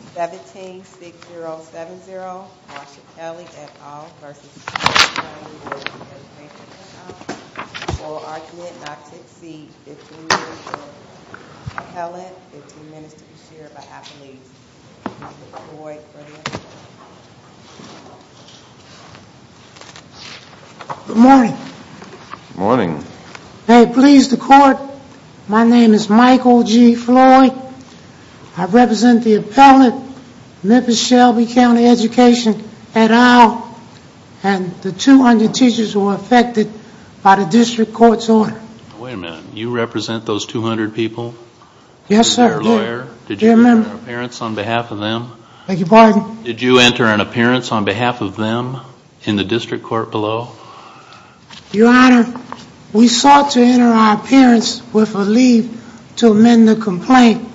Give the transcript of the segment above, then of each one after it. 17-6070, Marcia Kelley, et al. v. Shelby Ct Bd of Education, et al. For argument not to exceed 15 minutes to the appellate, 15 minutes to be shared by appellees. Mr. Floyd, for the appellate. Good morning. Good morning. May it please the Court, my name is Michael G. Floyd. I represent the appellate, Memphis-Shelby County Education, et al. And the 200 teachers who were affected by the District Court's order. Wait a minute, you represent those 200 people? Yes, sir. Did you enter an appearance on behalf of them? Thank you, pardon? Did you enter an appearance on behalf of them in the District Court below? Your Honor, we sought to enter our appearance with a leave to amend the complaint.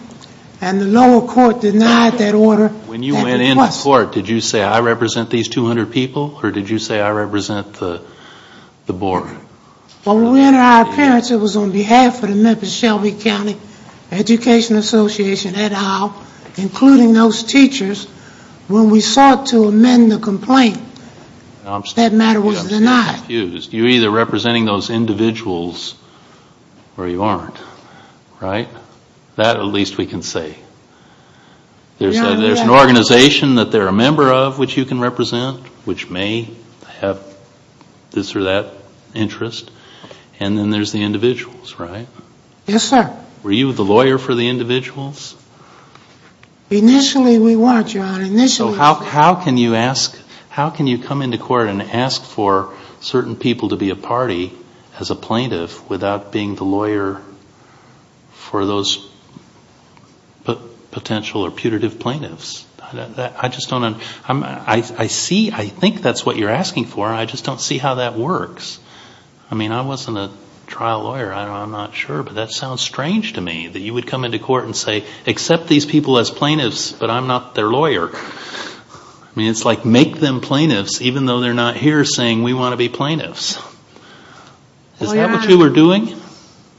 And the lower court denied that order. When you went into court, did you say, I represent these 200 people? Or did you say, I represent the board? When we entered our appearance, it was on behalf of the Memphis-Shelby County Education Association, et al. Including those teachers. When we sought to amend the complaint, that matter was denied. I'm still confused. You're either representing those individuals or you aren't, right? That, at least, we can say. There's an organization that they're a member of, which you can represent, which may have this or that interest. And then there's the individuals, right? Yes, sir. Were you the lawyer for the individuals? Initially, we weren't, Your Honor. So how can you ask, how can you come into court and ask for certain people to be a party as a plaintiff without being the lawyer for those potential or putative plaintiffs? I just don't, I see, I think that's what you're asking for. I just don't see how that works. I mean, I wasn't a trial lawyer. I'm not sure. But that sounds strange to me, that you would come into court and say, accept these people as plaintiffs, but I'm not their lawyer. I mean, it's like make them plaintiffs, even though they're not here saying we want to be plaintiffs. Is that what you were doing?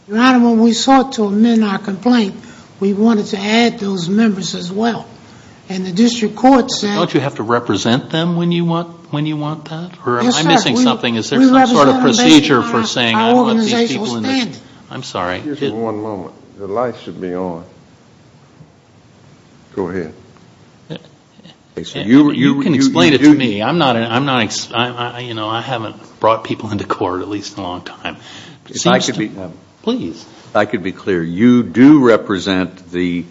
Your Honor, when we sought to amend our complaint, we wanted to add those members as well. And the district court said. Don't you have to represent them when you want that? Yes, sir. Or am I missing something? Is there some sort of procedure for saying I want these people in this? I'm sorry. Just one moment. The lights should be on. Go ahead. You can explain it to me. I'm not, you know, I haven't brought people into court, at least in a long time. Please. If I could be clear, you do represent the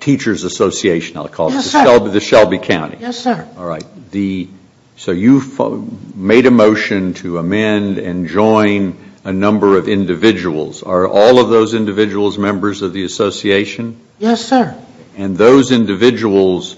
Teachers Association, I'll call it. Yes, sir. The Shelby County. Yes, sir. All right. So you made a motion to amend and join a number of individuals. Are all of those individuals members of the association? Yes, sir. And those individuals,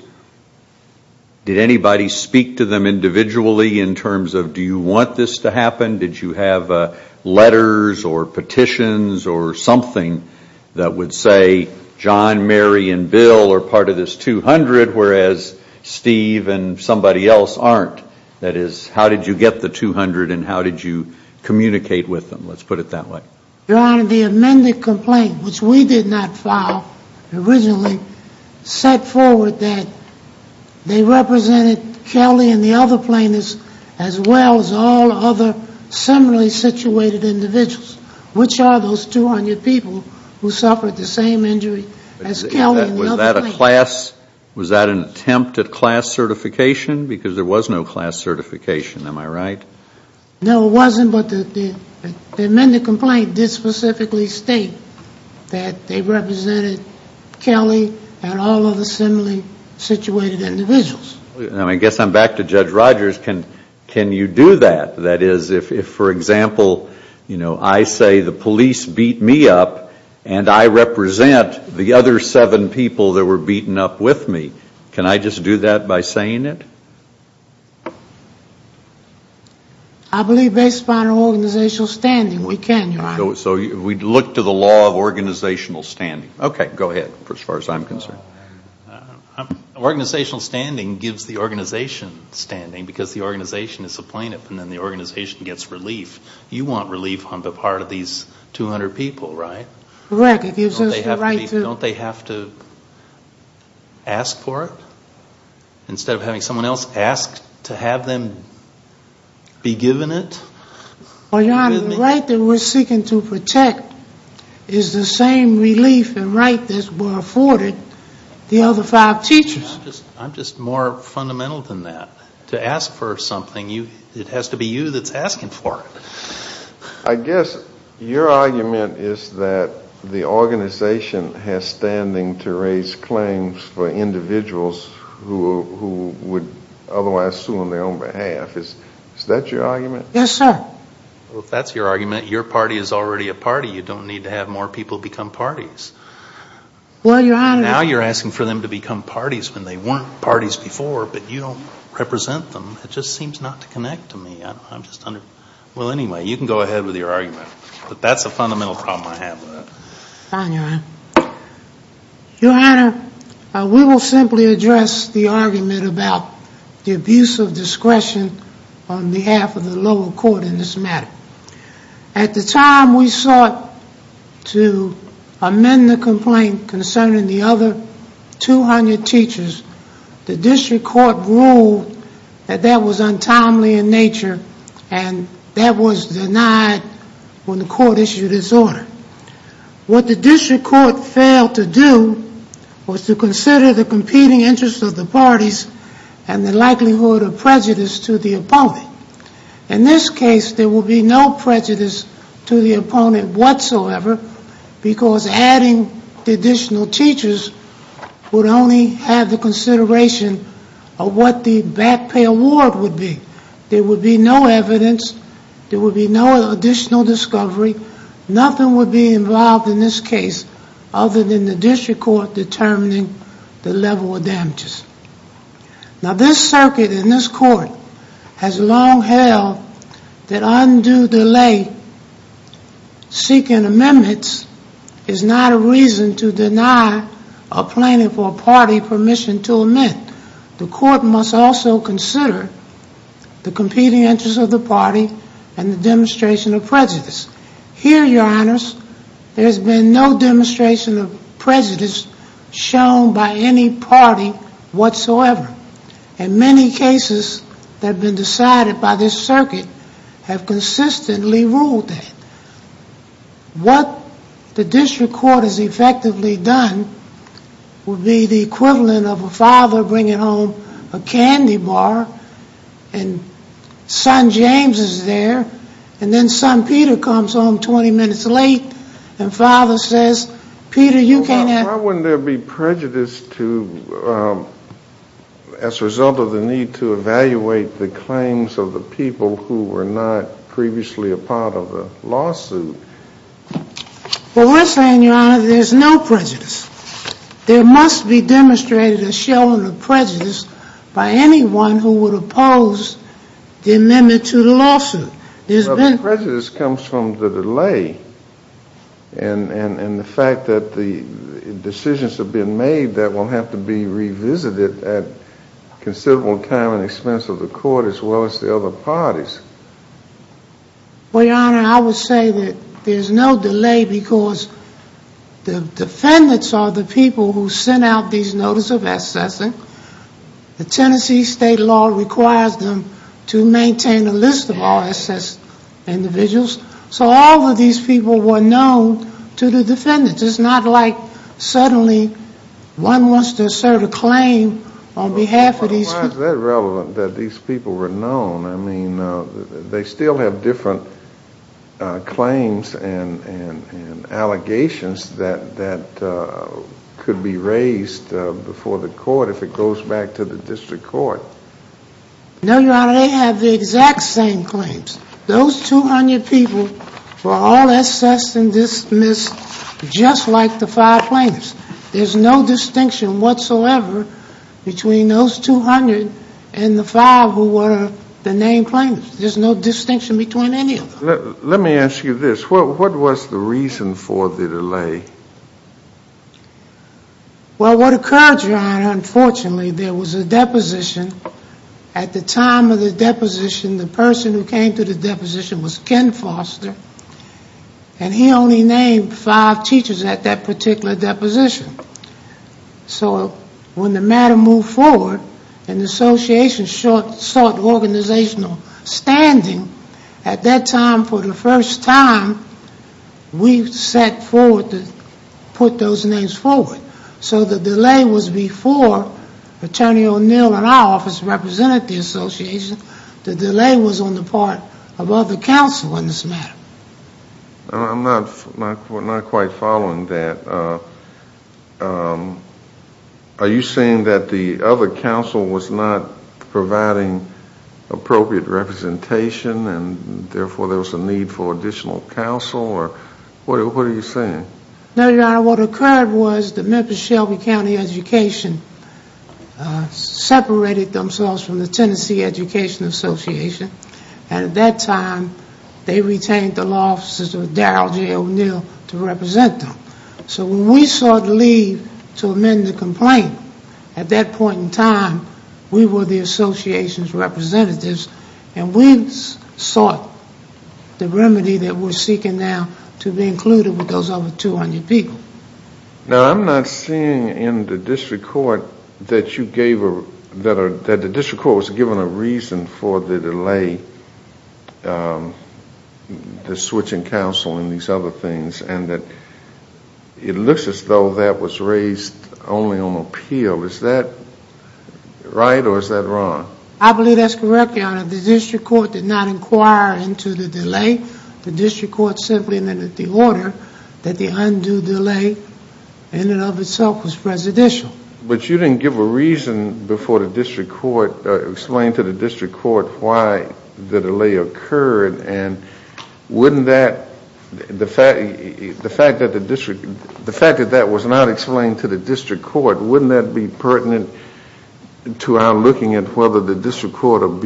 did anybody speak to them individually in terms of do you want this to happen? Did you have letters or petitions or something that would say John, Mary, and Bill are part of this 200, whereas Steve and somebody else aren't? That is, how did you get the 200 and how did you communicate with them? Let's put it that way. Your Honor, the amended complaint, which we did not file originally, set forward that they represented Kelly and the other plaintiffs as well as all other similarly situated individuals, which are those 200 people who suffered the same injury as Kelly and the other plaintiffs. Was that an attempt at class certification? Because there was no class certification, am I right? No, it wasn't, but the amended complaint did specifically state that they represented Kelly and all other similarly situated individuals. I guess I'm back to Judge Rogers. Can you do that? That is, if, for example, you know, I say the police beat me up and I represent the other seven people that were beaten up with me, can I just do that by saying it? I believe based upon organizational standing we can, Your Honor. So we'd look to the law of organizational standing. Okay, go ahead as far as I'm concerned. Organizational standing gives the organization standing because the organization is a plaintiff and then the organization gets relief. You want relief on the part of these 200 people, right? Correct. It gives us the right to. Don't they have to ask for it instead of having someone else ask to have them be given it? Well, Your Honor, the right that we're seeking to protect is the same relief and right that's afforded the other five teachers. I'm just more fundamental than that. To ask for something, it has to be you that's asking for it. I guess your argument is that the organization has standing to raise claims for individuals who would otherwise sue on their own behalf. Is that your argument? Yes, sir. Well, if that's your argument, your party is already a party. You don't need to have more people become parties. Well, Your Honor. Now you're asking for them to become parties when they weren't parties before, but you don't represent them. It just seems not to connect to me. Well, anyway, you can go ahead with your argument. But that's a fundamental problem I have with it. Fine, Your Honor. Your Honor, we will simply address the argument about the abuse of discretion on behalf of the lower court in this matter. At the time we sought to amend the complaint concerning the other 200 teachers, the district court ruled that that was untimely in nature and that was denied when the court issued its order. What the district court failed to do was to consider the competing interests of the parties and the likelihood of prejudice to the opponent. In this case, there will be no prejudice to the opponent whatsoever because adding the additional teachers would only have the consideration of what the back pay award would be. There would be no evidence. There would be no additional discovery. Nothing would be involved in this case other than the district court determining the level of damages. Now, this circuit in this court has long held that undue delay seeking amendments is not a reason to deny a plaintiff or party permission to amend. The court must also consider the competing interests of the party and the demonstration of prejudice. Here, Your Honors, there has been no demonstration of prejudice shown by any party whatsoever. And many cases that have been decided by this circuit have consistently ruled that. What the district court has effectively done would be the equivalent of a father bringing home a candy bar and son James is there and then son Peter comes home 20 minutes late and father says, Peter, you can't have... Why wouldn't there be prejudice as a result of the need to evaluate the claims of the people who were not previously a part of the lawsuit? Well, we're saying, Your Honor, there's no prejudice. There must be demonstrated a showing of prejudice by anyone who would oppose the amendment to the lawsuit. The prejudice comes from the delay and the fact that the decisions have been made that will have to be revisited at considerable time and expense of the court as well as the other parties. Well, Your Honor, I would say that there's no delay because the defendants are the people who sent out these notice of assessing. The Tennessee state law requires them to maintain a list of all assessed individuals. So all of these people were known to the defendants. It's not like suddenly one wants to assert a claim on behalf of these people. How is that relevant that these people were known? I mean, they still have different claims and allegations that could be raised before the court if it goes back to the district court. No, Your Honor, they have the exact same claims. Those 200 people were all assessed and dismissed just like the five plaintiffs. There's no distinction whatsoever between those 200 and the five who were the named plaintiffs. There's no distinction between any of them. Let me ask you this. What was the reason for the delay? Well, what occurred, Your Honor, unfortunately, there was a deposition. At the time of the deposition, the person who came to the deposition was Ken Foster, and he only named five teachers at that particular deposition. So when the matter moved forward and the association sought organizational standing, at that time for the first time we set forward to put those names forward. So the delay was before Attorney O'Neill and our office represented the association. The delay was on the part of other counsel in this matter. I'm not quite following that. Are you saying that the other counsel was not providing appropriate representation and therefore there was a need for additional counsel? What are you saying? No, Your Honor, what occurred was the Memphis-Shelby County education separated themselves from the Tennessee Education Association, and at that time they retained the law officers of Darrell J. O'Neill to represent them. So when we sought leave to amend the complaint, at that point in time we were the association's representatives and we sought the remedy that we're seeking now to be included with those other 200 people. Now I'm not seeing in the district court that you gave a that the district court was given a reason for the delay, the switching counsel and these other things, and that it looks as though that was raised only on appeal. Is that right or is that wrong? I believe that's correct, Your Honor. The district court did not inquire into the delay. The district court simply amended the order that the undue delay in and of itself was presidential. But you didn't give a reason before the district court, explain to the district court why the delay occurred, and wouldn't that, the fact that the district, the fact that that was not explained to the district court, wouldn't that be pertinent to our looking at whether the district court in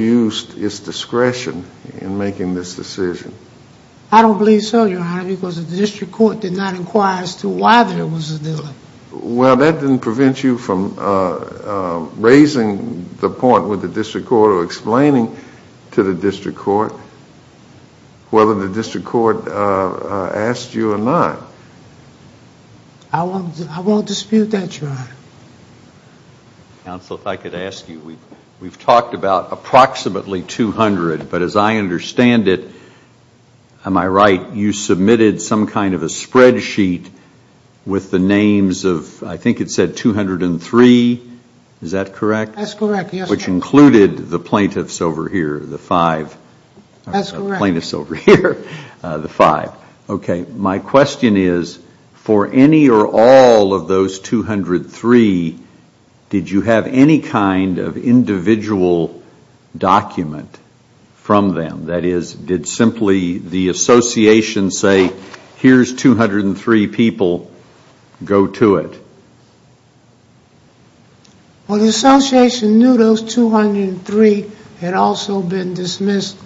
making this decision? I don't believe so, Your Honor, because the district court did not inquire as to why there was a delay. Well, that didn't prevent you from raising the point with the district court or explaining to the district court whether the district court asked you or not. I won't dispute that, Your Honor. Counsel, if I could ask you, we've talked about approximately 200, but as I understand it, am I right, you submitted some kind of a spreadsheet with the names of, I think it said 203, is that correct? That's correct, yes, Your Honor. Which included the plaintiffs over here, the five. That's correct. The plaintiffs over here, the five. Okay, my question is, for any or all of those 203, did you have any kind of individual document from them? That is, did simply the association say, here's 203 people, go to it? Well, the association knew those 203 had also been dismissed,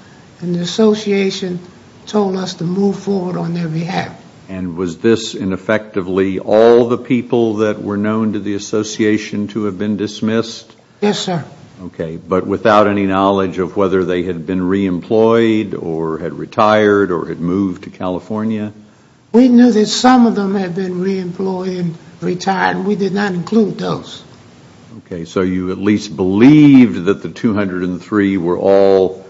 and the association told us to move forward on their behalf. And was this, and effectively, all the people that were known to the association to have been dismissed? Yes, sir. Okay, but without any knowledge of whether they had been re-employed or had retired or had moved to California? We knew that some of them had been re-employed and retired, and we did not include those. Okay, so you at least believed that the 203 were all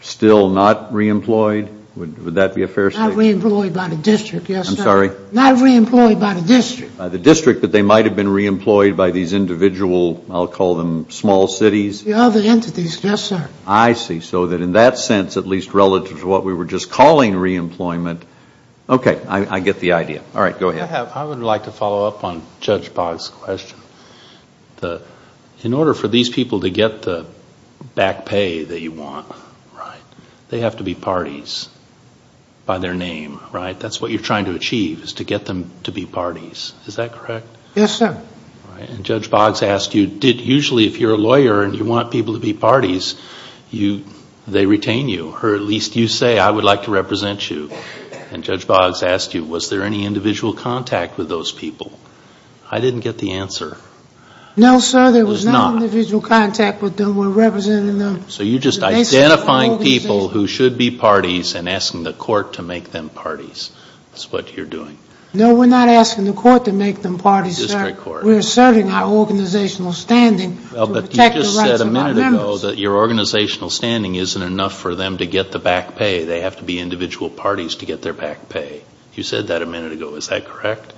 still not re-employed? Would that be a fair statement? Not re-employed by the district, yes, sir. I'm sorry? Not re-employed by the district. By the district, but they might have been re-employed by these individual, I'll call them small cities? The other entities, yes, sir. I see. So in that sense, at least relative to what we were just calling re-employment, okay, I get the idea. All right, go ahead. I would like to follow up on Judge Boggs' question. In order for these people to get the back pay that you want, right, they have to be parties by their name, right? That's what you're trying to achieve is to get them to be parties. Is that correct? Yes, sir. And Judge Boggs asked you, usually if you're a lawyer and you want people to be parties, they retain you, or at least you say, I would like to represent you. And Judge Boggs asked you, was there any individual contact with those people? I didn't get the answer. No, sir. There was not. There was no individual contact with them. We're representing them. So you're just identifying people who should be parties and asking the court to make them parties. That's what you're doing. No, we're not asking the court to make them parties, sir. The district court. We're asserting our organizational standing to protect the rights of our members. Well, but you just said a minute ago that your organizational standing isn't enough for them to get the back pay. They have to be individual parties to get their back pay. You said that a minute ago. Is that correct?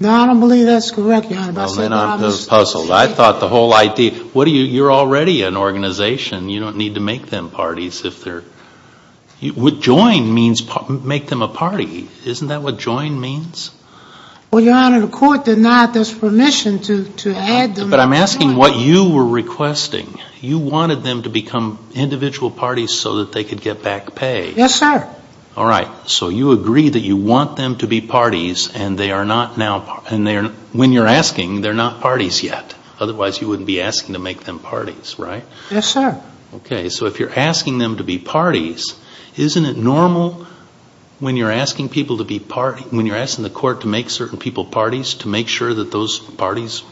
No, I don't believe that's correct, Your Honor. Well, then I'm puzzled. I thought the whole idea, what do you, you're already an organization. You don't need to make them parties if they're, what join means make them a party. Isn't that what join means? Well, Your Honor, the court did not ask permission to add them. But I'm asking what you were requesting. You wanted them to become individual parties so that they could get back pay. Yes, sir. All right. So you agree that you want them to be parties and they are not now, and when you're asking, they're not parties yet. Otherwise, you wouldn't be asking to make them parties, right? Yes, sir. Okay. So if you're asking them to be parties, isn't it normal when you're asking people to be parties, when you're asking the court to make certain people parties, to make sure that those parties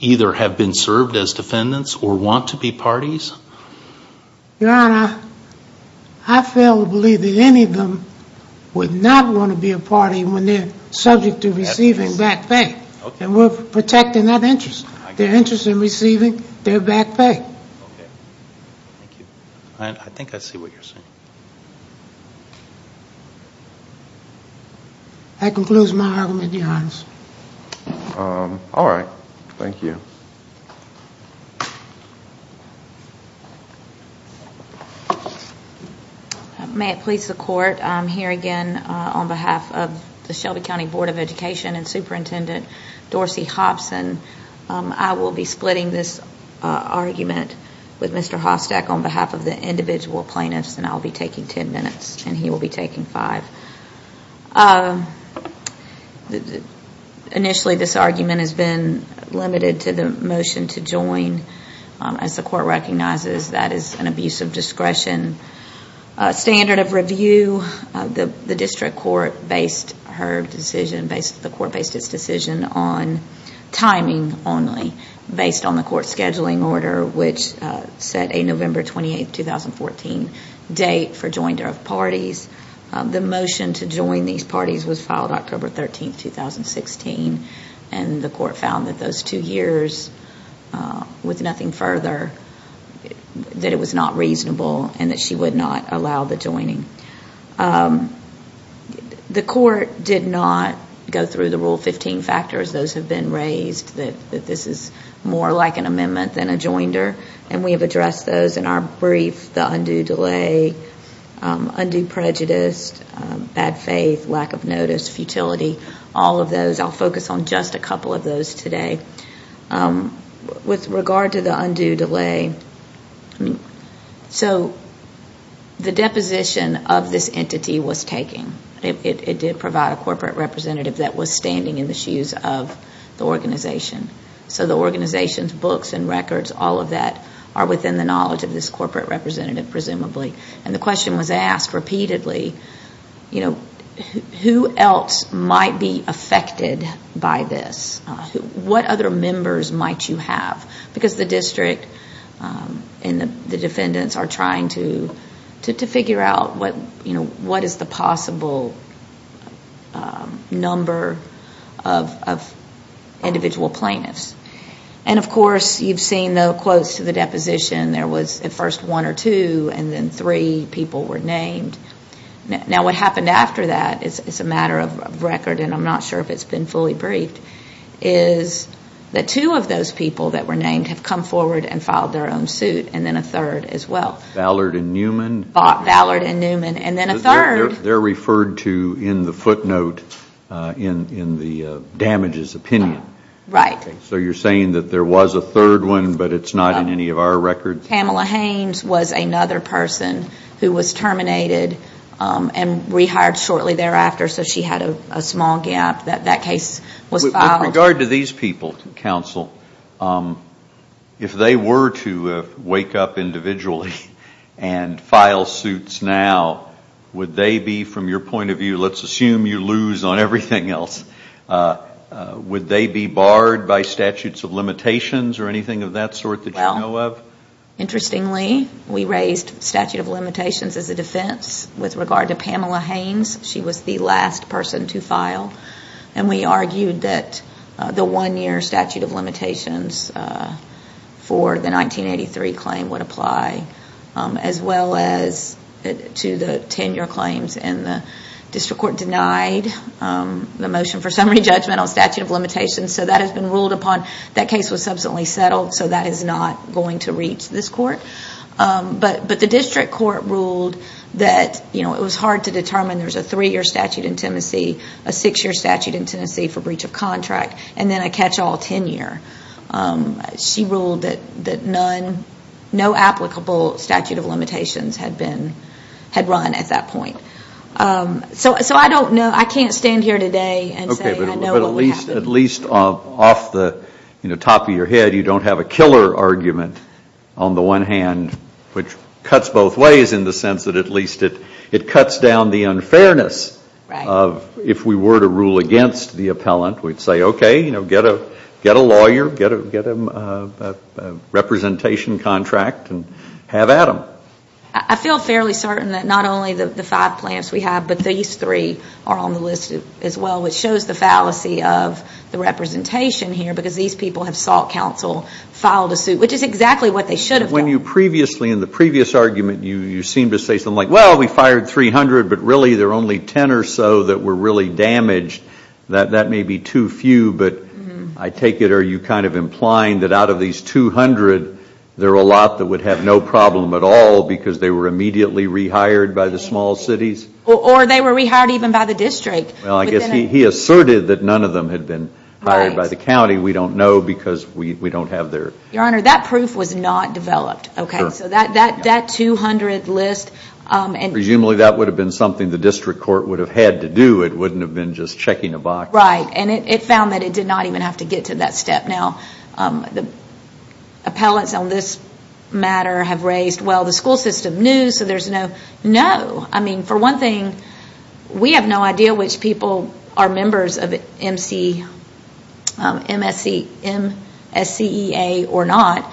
either have been served as defendants or want to be parties? Your Honor, I fail to believe that any of them would not want to be a party when they're subject to receiving back pay. And we're protecting that interest. Their interest in receiving their back pay. Okay. Thank you. I think I see what you're saying. That concludes my argument, Your Honor. All right. Thank you. May it please the Court, I'm here again on behalf of the Shelby County Board of Education and Superintendent Dorsey Hobson. I will be splitting this argument with Mr. Hostak on behalf of the individual plaintiffs, and I'll be taking ten minutes and he will be taking five. Initially, this argument has been limited to the motion to join. As the court recognizes, that is an abuse of discretion. Standard of review, the district court based her decision, the court based its decision on timing only, based on the court's scheduling order, which set a November 28, 2014 date for joinder of parties. The motion to join these parties was filed October 13, 2016, and the court found that those two years, with nothing further, that it was not reasonable and that she would not allow the joining. The court did not go through the Rule 15 factors. Those have been raised that this is more like an amendment than a joinder, and we have addressed those in our brief, the undue delay, undue prejudice, bad faith, lack of notice, futility, all of those. I'll focus on just a couple of those today. With regard to the undue delay, so the deposition of this entity was taken. It did provide a corporate representative that was standing in the shoes of the organization. So the organization's books and records, all of that, are within the knowledge of this corporate representative, presumably. And the question was asked repeatedly, who else might be affected by this? What other members might you have? Because the district and the defendants are trying to figure out what is the possible number of individual plaintiffs. And, of course, you've seen the quotes to the deposition. There was at first one or two, and then three people were named. Now what happened after that is a matter of record, and I'm not sure if it's been fully briefed, is that two of those people that were named have come forward and filed their own suit, and then a third as well. Ballard and Newman? Ballard and Newman, and then a third. They're referred to in the footnote in the damages opinion. Right. So you're saying that there was a third one, but it's not in any of our records? Pamela Haynes was another person who was terminated and rehired shortly thereafter, so she had a small gap. That case was filed. With regard to these people, counsel, if they were to wake up individually and file suits now, would they be, from your point of view, let's assume you lose on everything else, would they be barred by statutes of limitations or anything of that sort that you know of? Interestingly, we raised statute of limitations as a defense. With regard to Pamela Haynes, she was the last person to file, and we argued that the one-year statute of limitations for the 1983 claim would apply, as well as to the 10-year claims. The district court denied the motion for summary judgment on statute of limitations, so that has been ruled upon. That case was subsequently settled, so that is not going to reach this court. But the district court ruled that it was hard to determine there's a three-year statute in Tennessee, a six-year statute in Tennessee for breach of contract, and then a catch-all 10-year. She ruled that no applicable statute of limitations had run at that point. So I can't stand here today and say I know what would happen. But at least off the top of your head, you don't have a killer argument on the one hand, which cuts both ways in the sense that at least it cuts down the unfairness of if we were to rule against the appellant, we'd say, okay, get a lawyer, get a representation contract, and have Adam. I feel fairly certain that not only the five plaintiffs we have, but these three are on the list as well, which shows the fallacy of the representation here, because these people have sought counsel, filed a suit, which is exactly what they should have done. In the previous argument, you seemed to say something like, well, we fired 300, but really there are only 10 or so that were really damaged. That may be too few, but I take it are you kind of implying that out of these 200, there are a lot that would have no problem at all because they were immediately rehired by the small cities? Or they were rehired even by the district. Well, I guess he asserted that none of them had been hired by the county. We don't know because we don't have their... Your Honor, that proof was not developed, okay? So that 200 list... Presumably that would have been something the district court would have had to do. It wouldn't have been just checking a box. Right, and it found that it did not even have to get to that step. Now, the appellants on this matter have raised, well, the school system knew, so there's no... No. I mean, for one thing, we have no idea which people are members of MSCEA or not.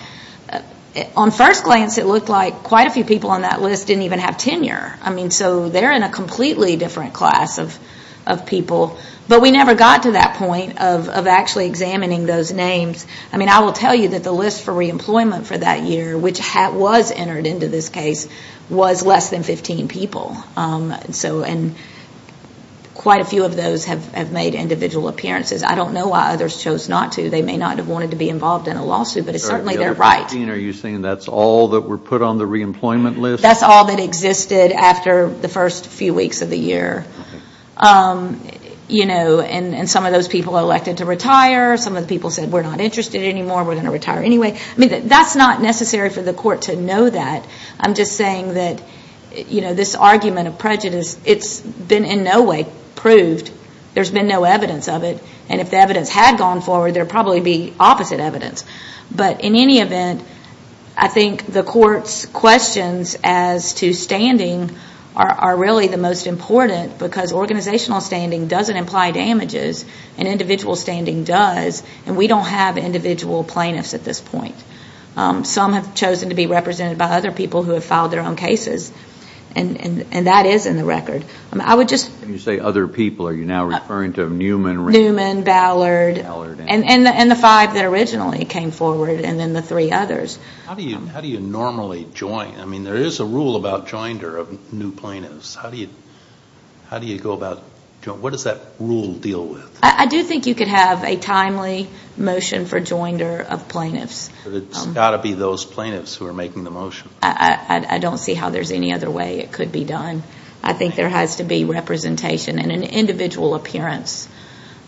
On first glance, it looked like quite a few people on that list didn't even have tenure. So they're in a completely different class of people. But we never got to that point of actually examining those names. I mean, I will tell you that the list for reemployment for that year, which was entered into this case, was less than 15 people. And quite a few of those have made individual appearances. I don't know why others chose not to. They may not have wanted to be involved in a lawsuit, but certainly they're right. The other 15, are you saying that's all that were put on the reemployment list? That's all that existed after the first few weeks of the year. And some of those people elected to retire. Some of the people said, we're not interested anymore. We're going to retire anyway. I mean, that's not necessary for the court to know that. I'm just saying that this argument of prejudice, it's been in no way proved. There's been no evidence of it. And if the evidence had gone forward, there would probably be opposite evidence. But in any event, I think the court's questions as to standing are really the most important because organizational standing doesn't imply damages, and individual standing does. And we don't have individual plaintiffs at this point. Some have chosen to be represented by other people who have filed their own cases. And that is in the record. When you say other people, are you now referring to Newman, Ring? Newman, Ballard. And the five that originally came forward, and then the three others. How do you normally join? I mean, there is a rule about joinder of new plaintiffs. How do you go about joining? What does that rule deal with? I do think you could have a timely motion for joinder of plaintiffs. But it's got to be those plaintiffs who are making the motion. I don't see how there's any other way it could be done. I think there has to be representation and an individual appearance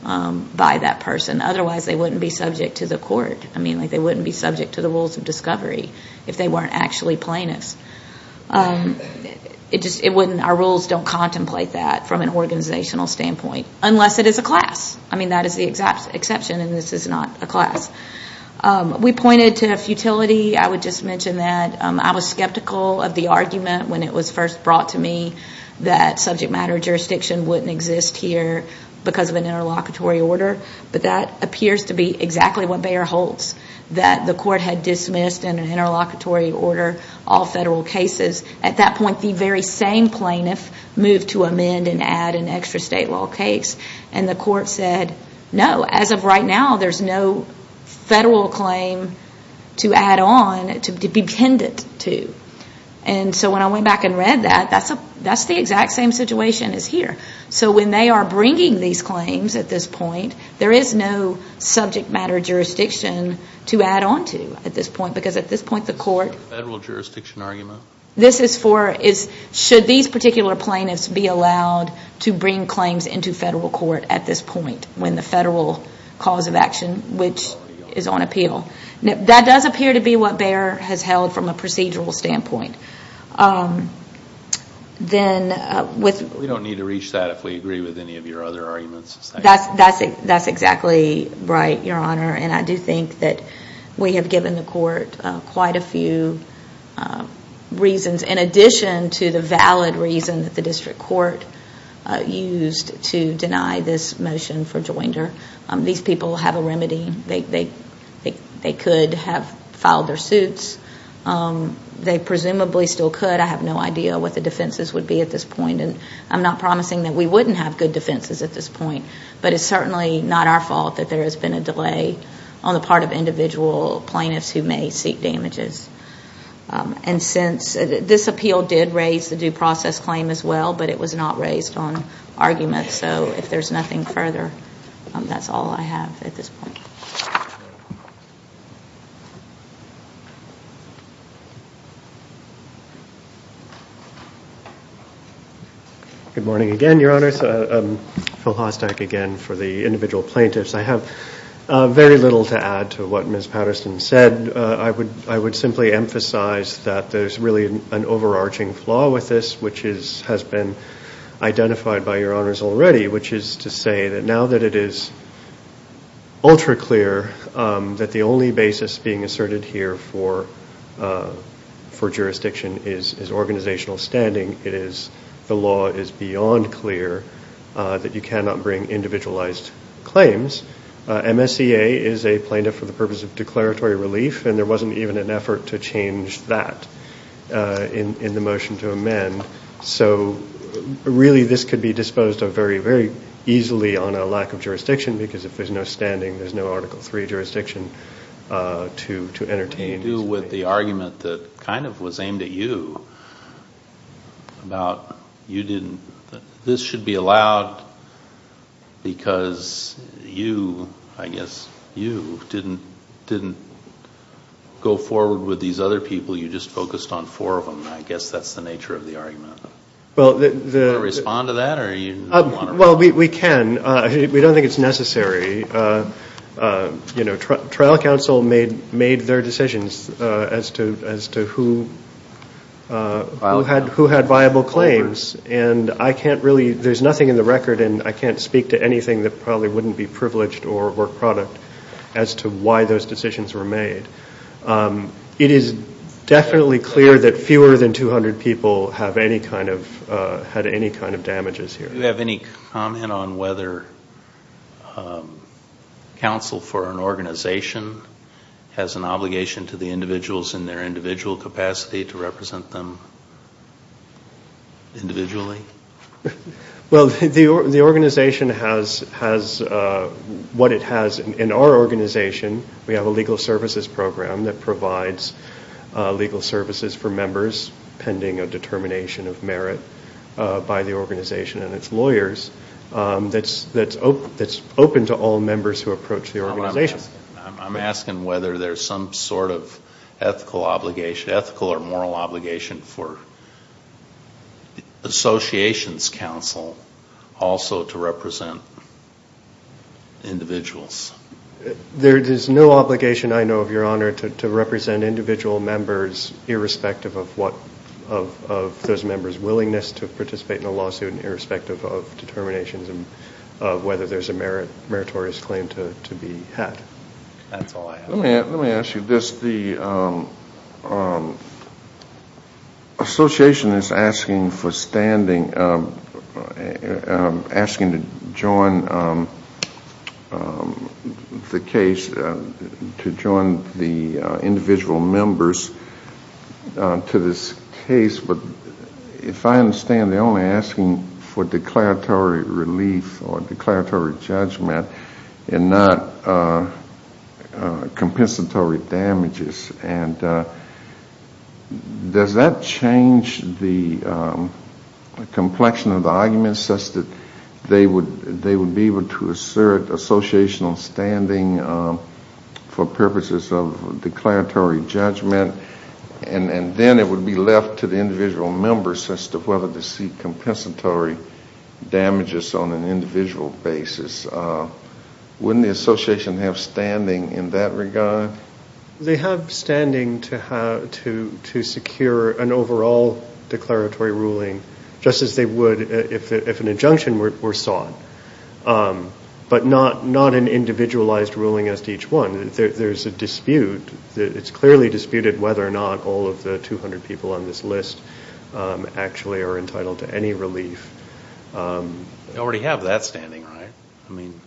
by that person. Otherwise, they wouldn't be subject to the court. I mean, they wouldn't be subject to the rules of discovery if they weren't actually plaintiffs. Our rules don't contemplate that from an organizational standpoint, unless it is a class. I mean, that is the exception, and this is not a class. We pointed to futility. I would just mention that. I was skeptical of the argument when it was first brought to me that subject matter jurisdiction wouldn't exist here because of an interlocutory order. But that appears to be exactly what Bayer holds, that the court had dismissed in an interlocutory order all federal cases. At that point, the very same plaintiff moved to amend and add an extra state law case. And the court said, no, as of right now, there's no federal claim to add on, to be dependent to. And so when I went back and read that, that's the exact same situation as here. So when they are bringing these claims at this point, there is no subject matter jurisdiction to add on to at this point. Because at this point, the court— Is this a federal jurisdiction argument? This is for—should these particular plaintiffs be allowed to bring claims into federal court at this point when the federal cause of action, which is on appeal. That does appear to be what Bayer has held from a procedural standpoint. We don't need to reach that if we agree with any of your other arguments. That's exactly right, Your Honor. And I do think that we have given the court quite a few reasons, in addition to the valid reason that the district court used to deny this motion for joinder. These people have a remedy. They could have filed their suits. They presumably still could. I have no idea what the defenses would be at this point. And I'm not promising that we wouldn't have good defenses at this point. But it's certainly not our fault that there has been a delay on the part of individual plaintiffs who may seek damages. And since—this appeal did raise the due process claim as well, but it was not raised on argument. So if there's nothing further, that's all I have at this point. Good morning again, Your Honors. Phil Hostack again for the individual plaintiffs. I have very little to add to what Ms. Patterson said. I would simply emphasize that there's really an overarching flaw with this, which has been identified by Your Honors already, which is to say that now that it is ultra-clear that the only basis being asserted here for jurisdiction is organizational standing, the law is beyond clear that you cannot bring individualized claims. MSCA is a plaintiff for the purpose of declaratory relief, and there wasn't even an effort to change that in the motion to amend. So really this could be disposed of very, very easily on a lack of jurisdiction because if there's no standing, there's no Article III jurisdiction to entertain. What do you do with the argument that kind of was aimed at you, about you didn't—this should be allowed because you, I guess, you didn't go forward with these other people, you just focused on four of them. I guess that's the nature of the argument. Do you want to respond to that, or do you want to— Well, we can. We don't think it's necessary. You know, trial counsel made their decisions as to who had viable claims, and I can't really—there's nothing in the record, and I can't speak to anything that probably wouldn't be privileged or a work product as to why those decisions were made. It is definitely clear that fewer than 200 people have any kind of—had any kind of damages here. Do you have any comment on whether counsel for an organization has an obligation to the individuals in their individual capacity to represent them individually? Well, the organization has what it has in our organization. We have a legal services program that provides legal services for members pending a determination of merit by the organization and its lawyers that's open to all members who approach the organization. I'm asking whether there's some sort of ethical obligation, ethical or moral obligation, for associations counsel also to represent individuals. There is no obligation, I know of, Your Honor, to represent individual members irrespective of what—of those members' willingness to participate in a lawsuit and irrespective of determinations of whether there's a meritorious claim to be had. That's all I have. Let me ask you this. The association is asking for standing, asking to join the case, to join the individual members to this case, but if I understand they're only asking for declaratory relief or declaratory judgment and not compensatory damages. And does that change the complexion of the arguments such that they would be able to assert associational standing for purposes of declaratory judgment and then it would be left to the individual members as to whether to seek compensatory damages on an individual basis. Wouldn't the association have standing in that regard? They have standing to secure an overall declaratory ruling, just as they would if an injunction were sought, but not an individualized ruling as to each one. There's a dispute. It's clearly disputed whether or not all of the 200 people on this list actually are entitled to any relief. They already have that standing, right? I mean,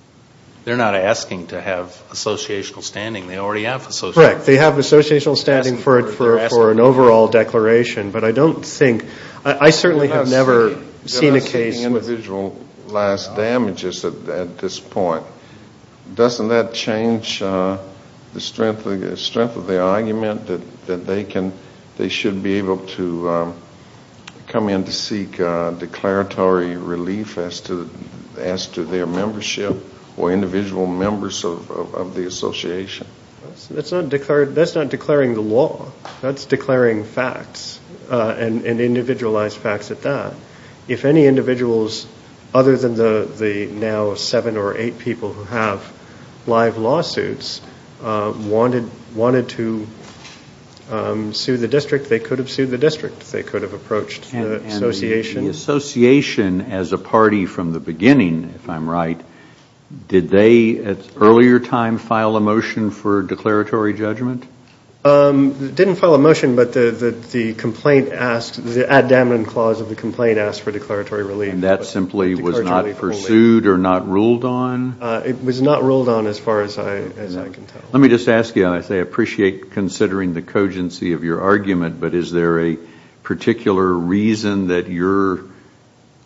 they're not asking to have associational standing. They already have associational standing. Correct. They have associational standing for an overall declaration, but I don't think—I certainly have never seen a case— They're not seeking individualized damages at this point. Doesn't that change the strength of the argument that they should be able to come in to seek declaratory relief as to their membership or individual members of the association? That's not declaring the law. That's declaring facts and individualized facts at that. If any individuals, other than the now seven or eight people who have live lawsuits, wanted to sue the district, they could have sued the district. They could have approached the association. And the association as a party from the beginning, if I'm right, did they at an earlier time file a motion for declaratory judgment? Didn't file a motion, but the complaint asked—the ad damnum clause of the complaint asked for declaratory relief. And that simply was not pursued or not ruled on? It was not ruled on as far as I can tell. Let me just ask you, and I appreciate considering the cogency of your argument, but is there a particular reason that your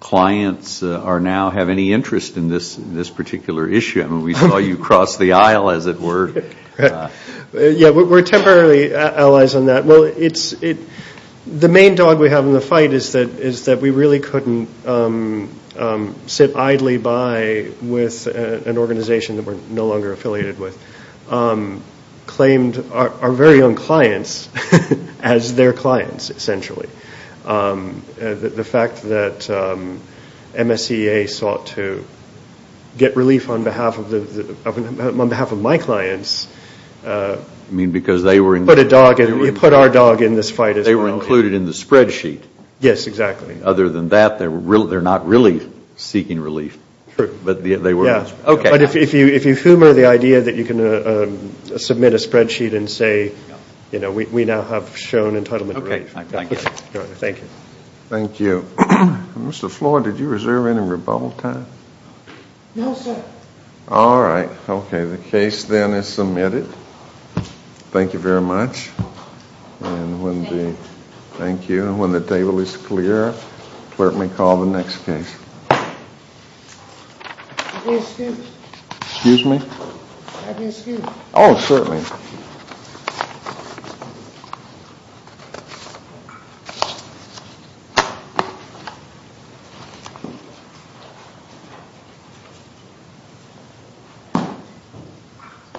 clients now have any interest in this particular issue? I mean, we saw you cross the aisle, as it were. Yeah, we're temporarily allies on that. Well, the main dog we have in the fight is that we really couldn't sit idly by with an organization that we're no longer affiliated with, claimed our very own clients as their clients, essentially. The fact that MSCA sought to get relief on behalf of my clients— They were included in the spreadsheet. Yes, exactly. Other than that, they're not really seeking relief. True. But they were— Yeah. Okay. But if you humor the idea that you can submit a spreadsheet and say, you know, we now have shown entitlement relief. Okay. I get it. Thank you. Thank you. Mr. Floyd, did you reserve any rebuttal time? No, sir. All right. Okay. The case then is submitted. Thank you very much. And when the— Thank you. Thank you. And when the table is clear, the clerk may call the next case. May I be excused? Excuse me? May I be excused? Oh, certainly.